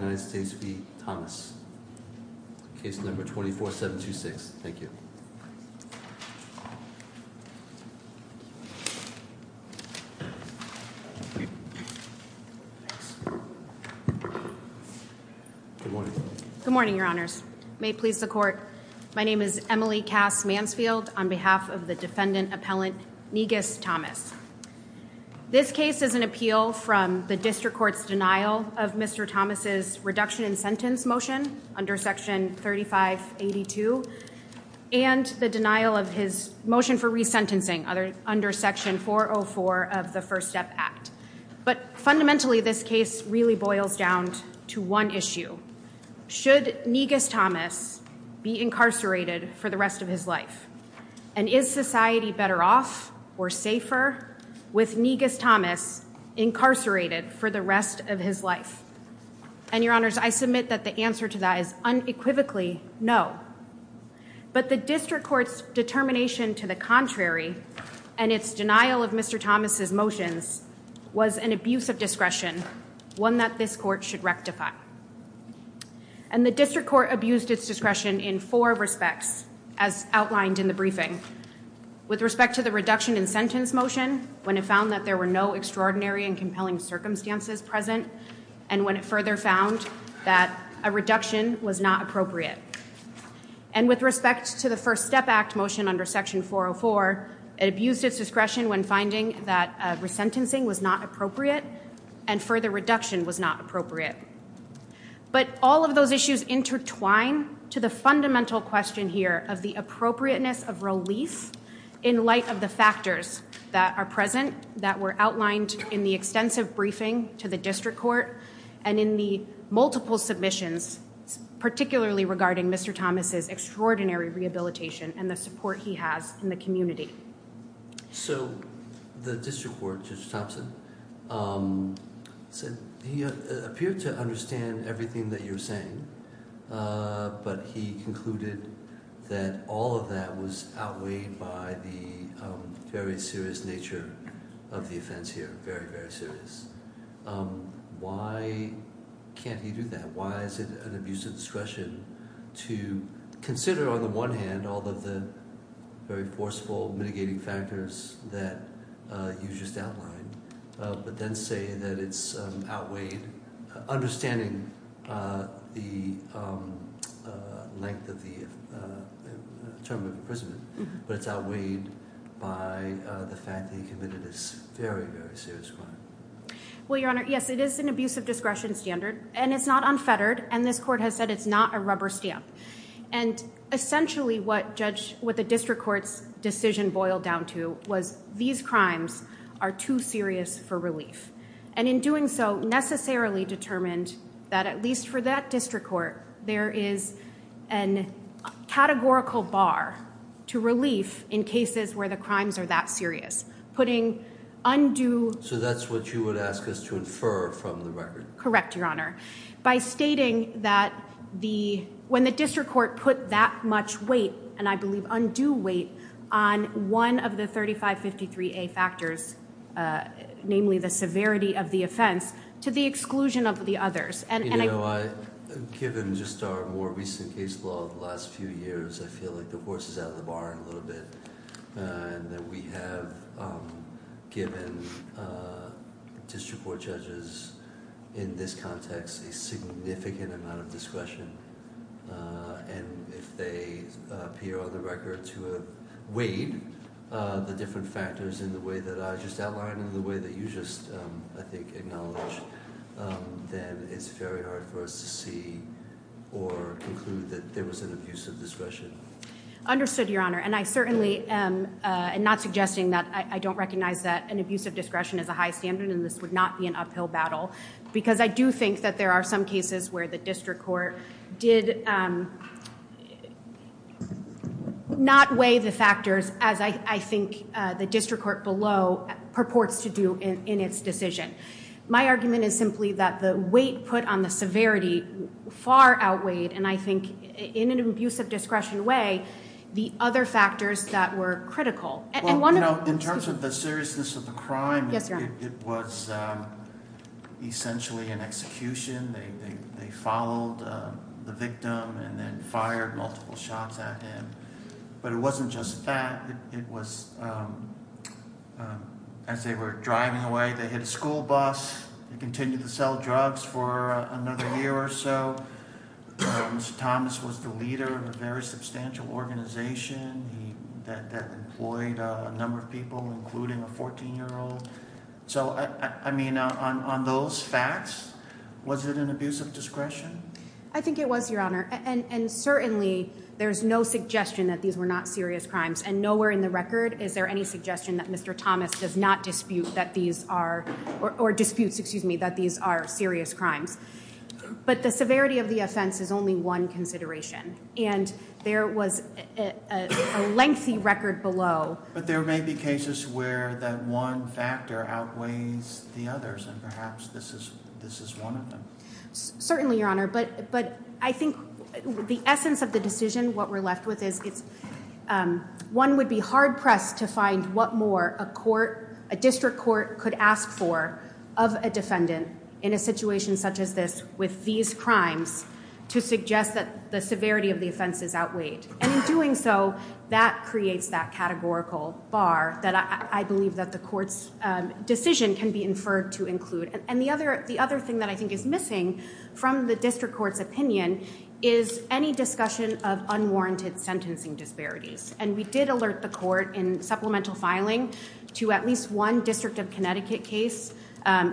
Good morning, your honors. May it please the court, my name is Emily Cass Mansfield on behalf of the defendant appellant Negus Thomas. This case is an appeal from the district court's denial of Mr. Thomas's reduction in sentence motion under section 3582 and the denial of his motion for resentencing under section 404 of the First Step Act. But fundamentally this case really boils down to one issue. Should Negus Thomas be incarcerated for the rest of his life? And is society better off or safer with Negus Thomas incarcerated for the rest of his life? And your honors, I submit that the answer to that is unequivocally no. But the district court's determination to the contrary and its denial of Mr. Thomas's motions was an abuse of discretion, one that this court should rectify. And the district court abused its discretion in four respects as outlined in the briefing. With respect to the reduction in sentence motion when it found that there were no extraordinary and compelling circumstances present and when it further found that a reduction was not appropriate. And with respect to the First Step Act motion under section 404, it abused its discretion when finding that resentencing was not appropriate and further reduction was not appropriate. But all of those issues intertwine to the fundamental question here of the appropriateness of release in light of the factors that are present that were outlined in the extensive briefing to the district court and in the multiple submissions, particularly regarding Mr. Thomas's extraordinary rehabilitation and the support he has in the community. So the district court, Judge Thompson, said he appeared to understand everything that you're saying, but he concluded that all of that was outweighed by the very serious nature of the offense here, very, very serious. Why can't he do that? Why is it an abuse of discretion to consider, on the one hand, all of the very forceful mitigating factors that you just outlined, but then say that it's outweighed, understanding the length of the term of imprisonment, but it's outweighed by the fact that he committed this very, very serious crime? Well, Your Honor, yes, it is an abuse of discretion standard, and it's not unfettered, and this court has said it's not a rubber stamp. And essentially what the district court's decision boiled down to was these crimes are too serious for relief. And in doing so, necessarily determined that at least for that district court, there is a categorical bar to relief in cases where the crimes are that serious, putting undue... So that's what you would ask us to infer from the record? Correct, Your Honor. By stating that when the district court put that much weight, and I believe undue weight, on one of the 3553A factors, namely the severity of the offense, to the exclusion of the others, and I... You know, given just our more recent case law of the last few years, I feel like the horse is out of the barn a little bit, and that we have given district court judges in this context a significant amount of discretion. And if they appear on the record to have weighed the different factors in the way that I just outlined and the way that you just, I think, acknowledged, then it's very hard for us to see or conclude that there was an abuse of discretion. Understood, Your Honor. And I certainly am not suggesting that... I don't recognize that an abuse of discretion is a high standard, and this would not be an uphill battle. Because I do think that there are some cases where the district court did not weigh the factors as I think the district court below purports to do in its decision. My argument is simply that the weight put on the severity far outweighed, and I think in an abuse of discretion way, the other factors that were critical. Well, you know, in terms of the seriousness of the crime, it was essentially an execution. They followed the victim and then fired multiple shots at him. But it wasn't just that. It was, as they were driving away, they hit a school bus and continued to sell drugs for another year or so. Mr. Thomas was the leader of a very substantial organization that employed a number of people, including a 14-year-old. So, I mean, on those facts, was it an abuse of discretion? I think it was, Your Honor, and certainly there's no suggestion that these were not serious crimes. And nowhere in the record is there any suggestion that Mr. Thomas does not dispute that these are serious crimes. But the severity of the offense is only one consideration, and there was a lengthy record below... But there may be cases where that one factor outweighs the others, and perhaps this is one of them. Certainly, Your Honor, but I think the essence of the decision, what we're left with is one would be hard-pressed to find what more a district court could ask for of a defendant in a situation such as this with these crimes to suggest that the severity of the offense is outweighed. And in doing so, that creates that categorical bar that I believe that the court's decision can be inferred to include. And the other thing that I think is missing from the district court's opinion is any discussion of unwarranted sentencing disparities. And we did alert the court in supplemental filing to at least one District of Connecticut case,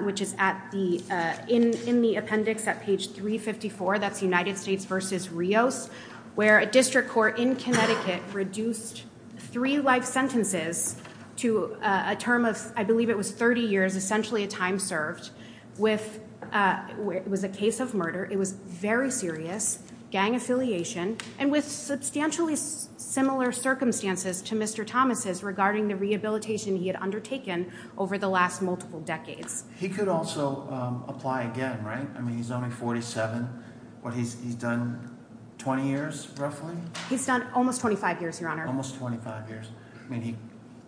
which is in the appendix at page 354. That's United States v. Rios, where a district court in Connecticut reduced three life sentences to a term of, I believe it was 30 years, essentially a time served. It was a case of murder. It was very serious, gang affiliation, and with substantially similar circumstances to Mr. Thomas's regarding the rehabilitation he had undertaken over the last multiple decades. He could also apply again, right? I mean, he's only 47. What, he's done 20 years, roughly? He's done almost 25 years, Your Honor. Almost 25 years. I mean,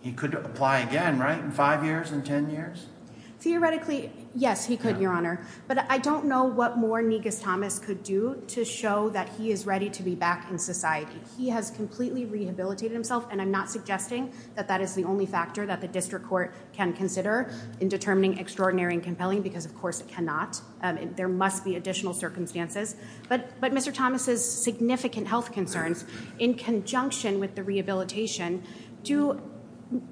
he could apply again, right? In five years? In 10 years? Theoretically, yes, he could, Your Honor. But I don't know what more Negus Thomas could do to show that he is ready to be back in society. He has completely rehabilitated himself, and I'm not suggesting that that is the only factor that the district court can consider in determining extraordinary and compelling, because of course it cannot. There must be additional circumstances. But Mr. Thomas's significant health concerns, in conjunction with the rehabilitation, do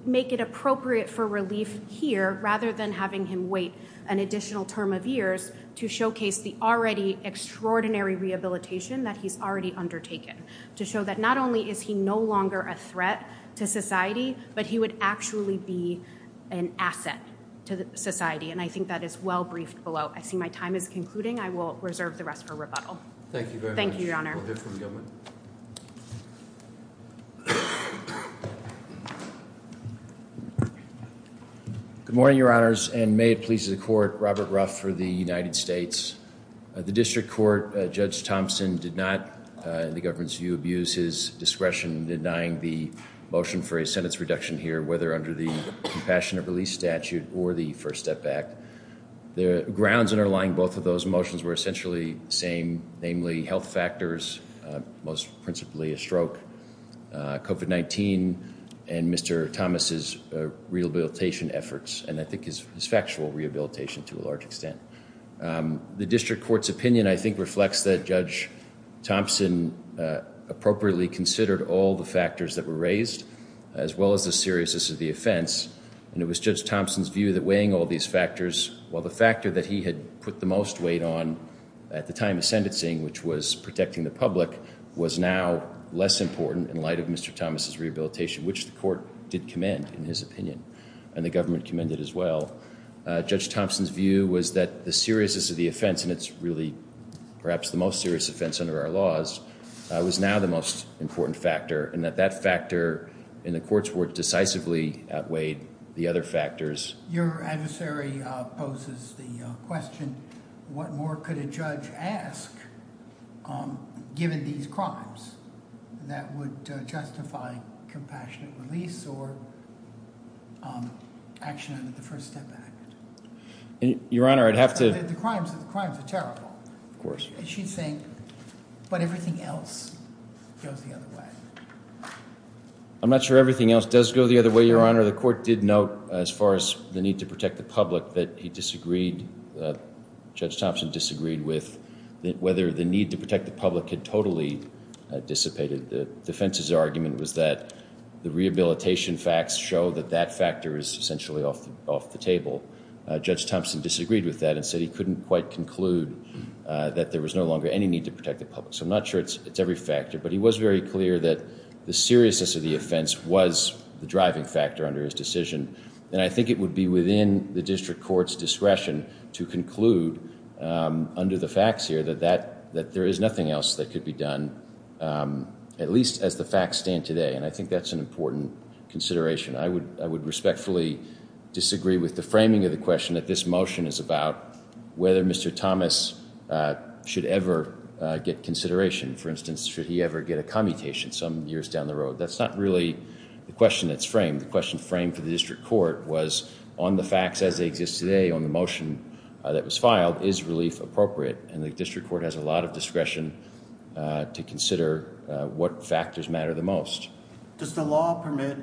make it appropriate for relief here, rather than having him wait an additional term of years to showcase the already extraordinary rehabilitation that he's already undertaken. To show that not only is he no longer a threat to society, but he would actually be an asset to society, and I think that is well briefed below. I see my time is concluding. I will reserve the rest for rebuttal. Thank you very much. We'll hear from the government. Good morning, Your Honors, and may it please the court, Robert Ruff for the United States. The district court, Judge Thompson, did not, in the government's view, abuse his discretion in denying the motion for a sentence reduction here, whether under the Compassionate Relief Statute or the First Step Act. The grounds underlying both of those motions were essentially the same, namely health factors, most principally a stroke, COVID-19, and Mr. Thomas's rehabilitation efforts, and I think his factual rehabilitation to a large extent. The district court's opinion, I think, reflects that Judge Thompson appropriately considered all the factors that were raised, as well as the seriousness of the offense, and it was Judge Thompson's view that weighing all these factors, while the factor that he had put the most weight on at the time of sentencing, which was protecting the public, was now less important in light of Mr. Thomas's rehabilitation, which the court did commend, in his opinion, and the government commended as well. Judge Thompson's view was that the seriousness of the offense, and it's really perhaps the most serious offense under our laws, was now the most important factor, and that that factor in the court's work decisively outweighed the other factors. Your adversary poses the question, what more could a judge ask, given these crimes, that would justify compassionate release or action under the First Step Act? Your Honor, I'd have to… The crimes are terrible. Of course. She's saying, but everything else goes the other way. I'm not sure everything else does go the other way, Your Honor. The court did note, as far as the need to protect the public, that Judge Thompson disagreed with whether the need to protect the public had totally dissipated. The defense's argument was that the rehabilitation facts show that that factor is essentially off the table. Judge Thompson disagreed with that and said he couldn't quite conclude that there was no longer any need to protect the public. So I'm not sure it's every factor, but he was very clear that the seriousness of the offense was the driving factor under his decision. And I think it would be within the district court's discretion to conclude, under the facts here, that there is nothing else that could be done, at least as the facts stand today. And I think that's an important consideration. I would respectfully disagree with the framing of the question that this motion is about whether Mr. Thomas should ever get consideration. For instance, should he ever get a commutation some years down the road? That's not really the question that's framed. The question framed for the district court was, on the facts as they exist today, on the motion that was filed, is relief appropriate? And the district court has a lot of discretion to consider what factors matter the most. Does the law permit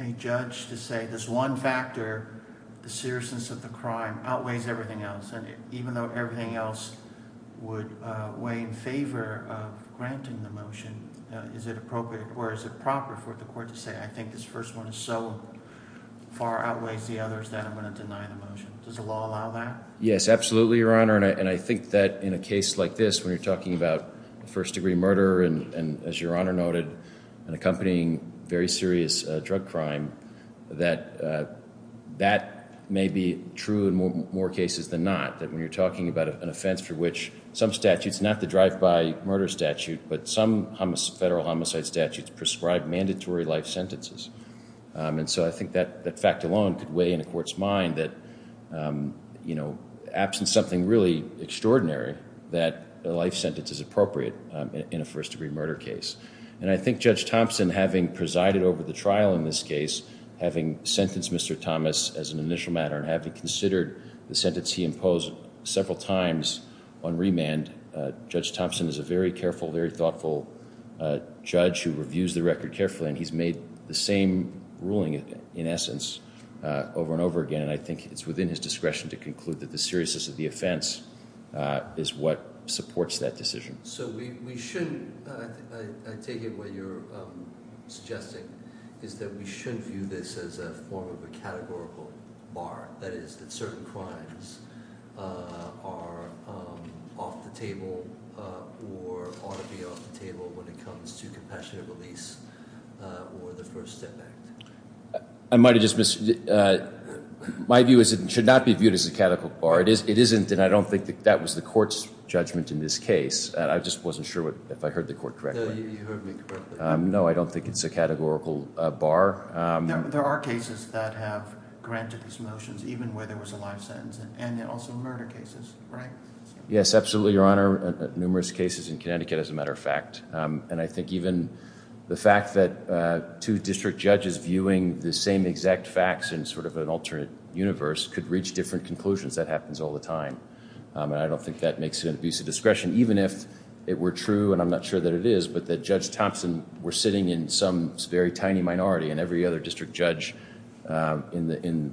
a judge to say this one factor, the seriousness of the crime, outweighs everything else? And even though everything else would weigh in favor of granting the motion, is it appropriate or is it proper for the court to say, I think this first one is so far outweighs the others that I'm going to deny the motion? Does the law allow that? Yes, absolutely, Your Honor. And I think that in a case like this, when you're talking about first-degree murder and, as Your Honor noted, an accompanying very serious drug crime, that that may be true in more cases than not. That when you're talking about an offense for which some statutes, not the drive-by murder statute, but some federal homicide statutes prescribe mandatory life sentences. And so I think that fact alone could weigh in a court's mind that, you know, absent something really extraordinary, that a life sentence is appropriate in a first-degree murder case. And I think Judge Thompson, having presided over the trial in this case, having sentenced Mr. Thomas as an initial matter, and having considered the sentence he imposed several times on remand, Judge Thompson is a very careful, very thoughtful judge who reviews the record carefully, and he's made the same ruling, in essence, over and over again. And I think it's within his discretion to conclude that the seriousness of the offense is what supports that decision. So we shouldn't – I take it what you're suggesting is that we shouldn't view this as a form of a categorical bar, that is that certain crimes are off the table or ought to be off the table when it comes to compassionate release or the First Step Act. I might have just missed – my view is it should not be viewed as a categorical bar. It isn't, and I don't think that that was the court's judgment in this case. I just wasn't sure if I heard the court correctly. No, you heard me correctly. No, I don't think it's a categorical bar. There are cases that have granted these motions, even where there was a life sentence, and there are also murder cases, right? Yes, absolutely, Your Honor. Numerous cases in Connecticut, as a matter of fact. And I think even the fact that two district judges viewing the same exact facts in sort of an alternate universe could reach different conclusions. That happens all the time, and I don't think that makes it an abuse of discretion, even if it were true – and I'm not sure that it is – but that Judge Thompson were sitting in some very tiny minority, and every other district judge in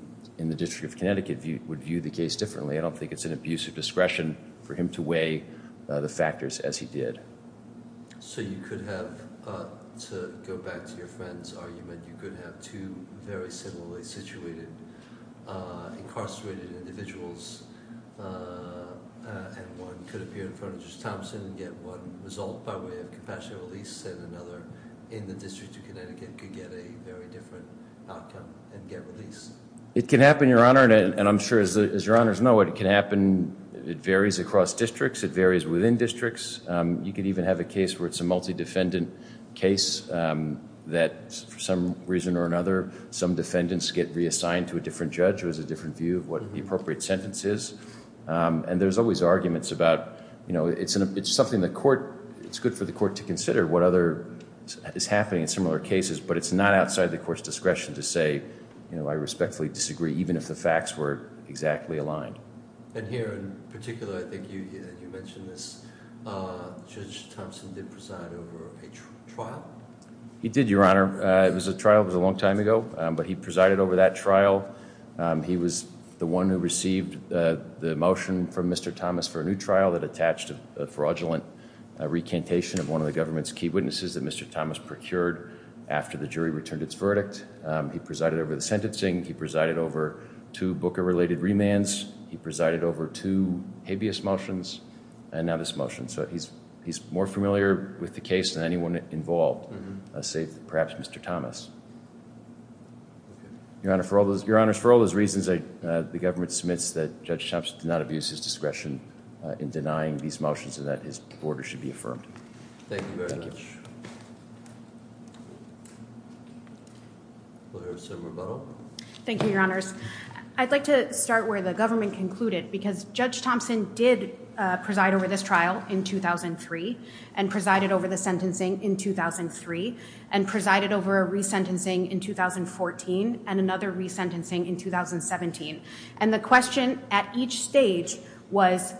the District of Connecticut would view the case differently. I don't think it's an abuse of discretion for him to weigh the factors as he did. So you could have – to go back to your friend's argument – you could have two very similarly situated incarcerated individuals, and one could appear in front of Judge Thompson and get one result by way of compassionate release, and another in the District of Connecticut could get a very different outcome and get release. It can happen, Your Honor, and I'm sure, as Your Honors know, it can happen. It varies across districts. It varies within districts. You could even have a case where it's a multi-defendant case that, for some reason or another, some defendants get reassigned to a different judge who has a different view of what the appropriate sentence is. And there's always arguments about – you know, it's something the court – it's good for the court to consider what other – is happening in similar cases, but it's not outside the court's discretion to say, you know, I respectfully disagree even if the facts were exactly aligned. And here in particular, I think you mentioned this, Judge Thompson did preside over a trial? He did, Your Honor. It was a trial. It was a long time ago. But he presided over that trial. He was the one who received the motion from Mr. Thomas for a new trial that attached a fraudulent recantation of one of the government's key witnesses that Mr. Thomas procured after the jury returned its verdict. He presided over the sentencing. He presided over two Booker-related remands. He presided over two habeas motions, and now this motion. So he's more familiar with the case than anyone involved, save perhaps Mr. Thomas. Your Honor, for all those reasons, the government submits that Judge Thompson did not abuse his discretion in denying these motions and that his order should be affirmed. Thank you very much. Will there be some rebuttal? Thank you, Your Honors. I'd like to start where the government concluded because Judge Thompson did preside over this trial in 2003 and presided over the sentencing in 2003 and presided over a resentencing in 2014 and another resentencing in 2017. And the question at each stage was,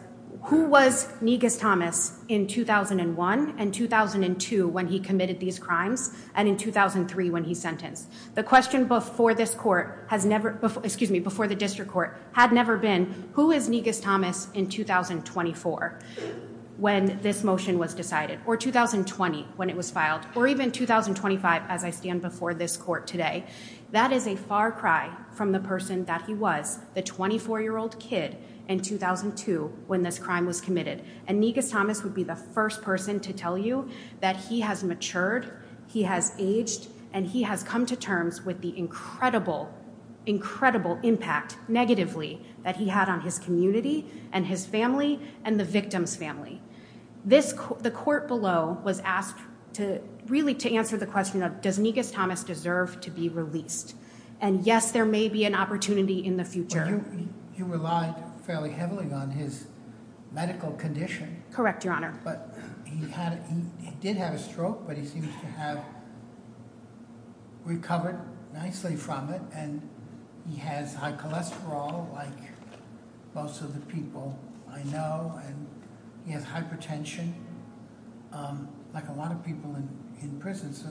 who was Negus Thomas in 2001 and 2002 when he committed these crimes and in 2003 when he sentenced? The question before this court has never, excuse me, before the district court had never been, who is Negus Thomas in 2024 when this motion was decided or 2020 when it was filed or even 2025 as I stand before this court today? That is a far cry from the person that he was, the 24-year-old kid in 2002 when this crime was committed. And Negus Thomas would be the first person to tell you that he has matured, he has aged, and he has come to terms with the incredible, incredible impact negatively that he had on his community and his family and the victim's family. The court below was asked really to answer the question of, does Negus Thomas deserve to be released? And yes, there may be an opportunity in the future. He relied fairly heavily on his medical condition. Correct, Your Honor. But he did have a stroke, but he seems to have recovered nicely from it and he has high cholesterol like most of the people I know and he has hypertension like a lot of people in prison. So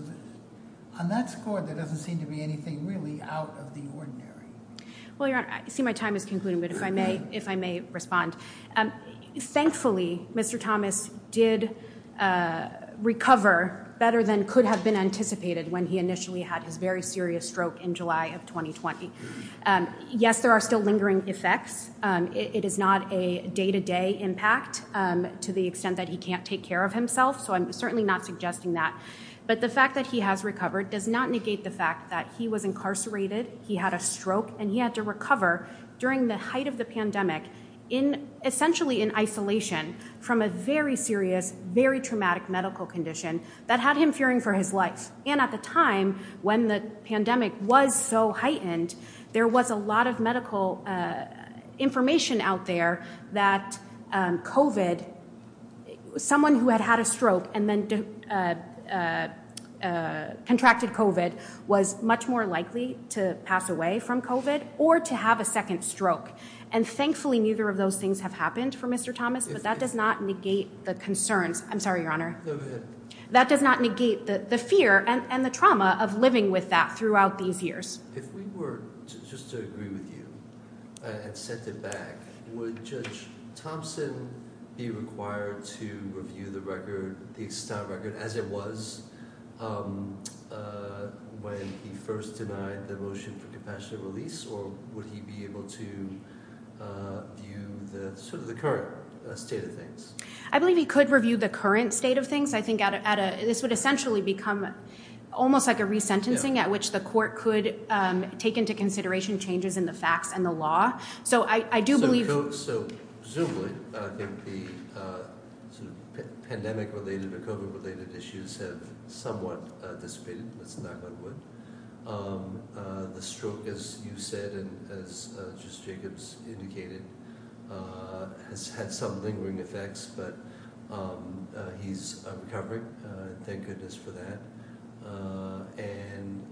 on that score, there doesn't seem to be anything really out of the ordinary. Well, Your Honor, I see my time is concluding, but if I may respond. Thankfully, Mr. Thomas did recover better than could have been anticipated when he initially had his very serious stroke in July of 2020. Yes, there are still lingering effects. It is not a day-to-day impact to the extent that he can't take care of himself, so I'm certainly not suggesting that. But the fact that he has recovered does not negate the fact that he was incarcerated, he had a stroke, and he had to recover during the height of the pandemic essentially in isolation from a very serious, very traumatic medical condition that had him fearing for his life. And at the time when the pandemic was so heightened, there was a lot of medical information out there that COVID, someone who had had a stroke and then contracted COVID was much more likely to pass away from COVID or to have a second stroke. And thankfully, neither of those things have happened for Mr. Thomas, but that does not negate the concerns. I'm sorry, Your Honor. That does not negate the fear and the trauma of living with that throughout these years. If we were just to agree with you and set it back, would Judge Thompson be required to review the record, the extant record, as it was when he first denied the motion for compassionate release, or would he be able to view sort of the current state of things? I believe he could review the current state of things. I think this would essentially become almost like a resentencing at which the court could take into consideration changes in the facts and the law. So I do believe. So presumably, I think the pandemic-related or COVID-related issues have somewhat dissipated. Let's knock on wood. The stroke, as you said, and as Justice Jacobs indicated, has had some lingering effects, but he's recovering. Thank goodness for that. And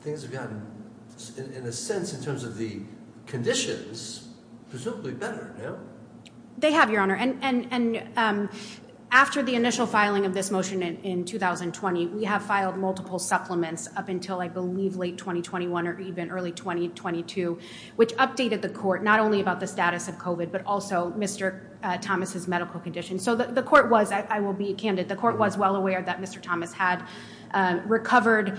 things have gotten, in a sense, in terms of the conditions, presumably better, no? They have, Your Honor. And after the initial filing of this motion in 2020, we have filed multiple supplements up until I believe late 2021 or even early 2022, which updated the court not only about the status of COVID but also Mr. Thomas's medical condition. So the court was, I will be candid, the court was well aware that Mr. Thomas had recovered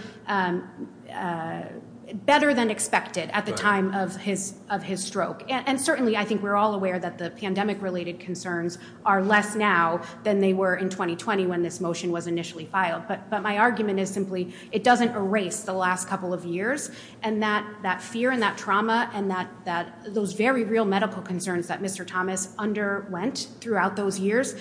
better than expected at the time of his stroke. And certainly I think we're all aware that the pandemic-related concerns are less now than they were in 2020 when this motion was initially filed. But my argument is simply it doesn't erase the last couple of years, and that fear and that trauma and those very real medical concerns that Mr. Thomas underwent throughout those years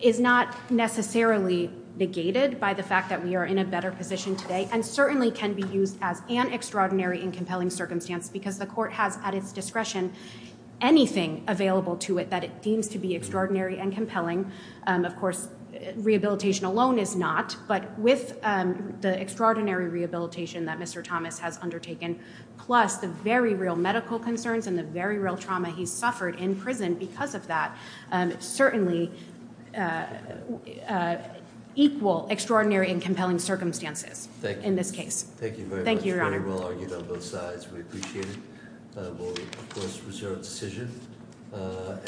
is not necessarily negated by the fact that we are in a better position today and certainly can be used as an extraordinary and compelling circumstance because the court has at its discretion anything available to it that it deems to be extraordinary and compelling. Of course, rehabilitation alone is not. But with the extraordinary rehabilitation that Mr. Thomas has undertaken, plus the very real medical concerns and the very real trauma he suffered in prison because of that, certainly equal extraordinary and compelling circumstances in this case. Thank you very much. Thank you, Your Honor. Very well argued on both sides. We appreciate it. We'll, of course, reserve the decision.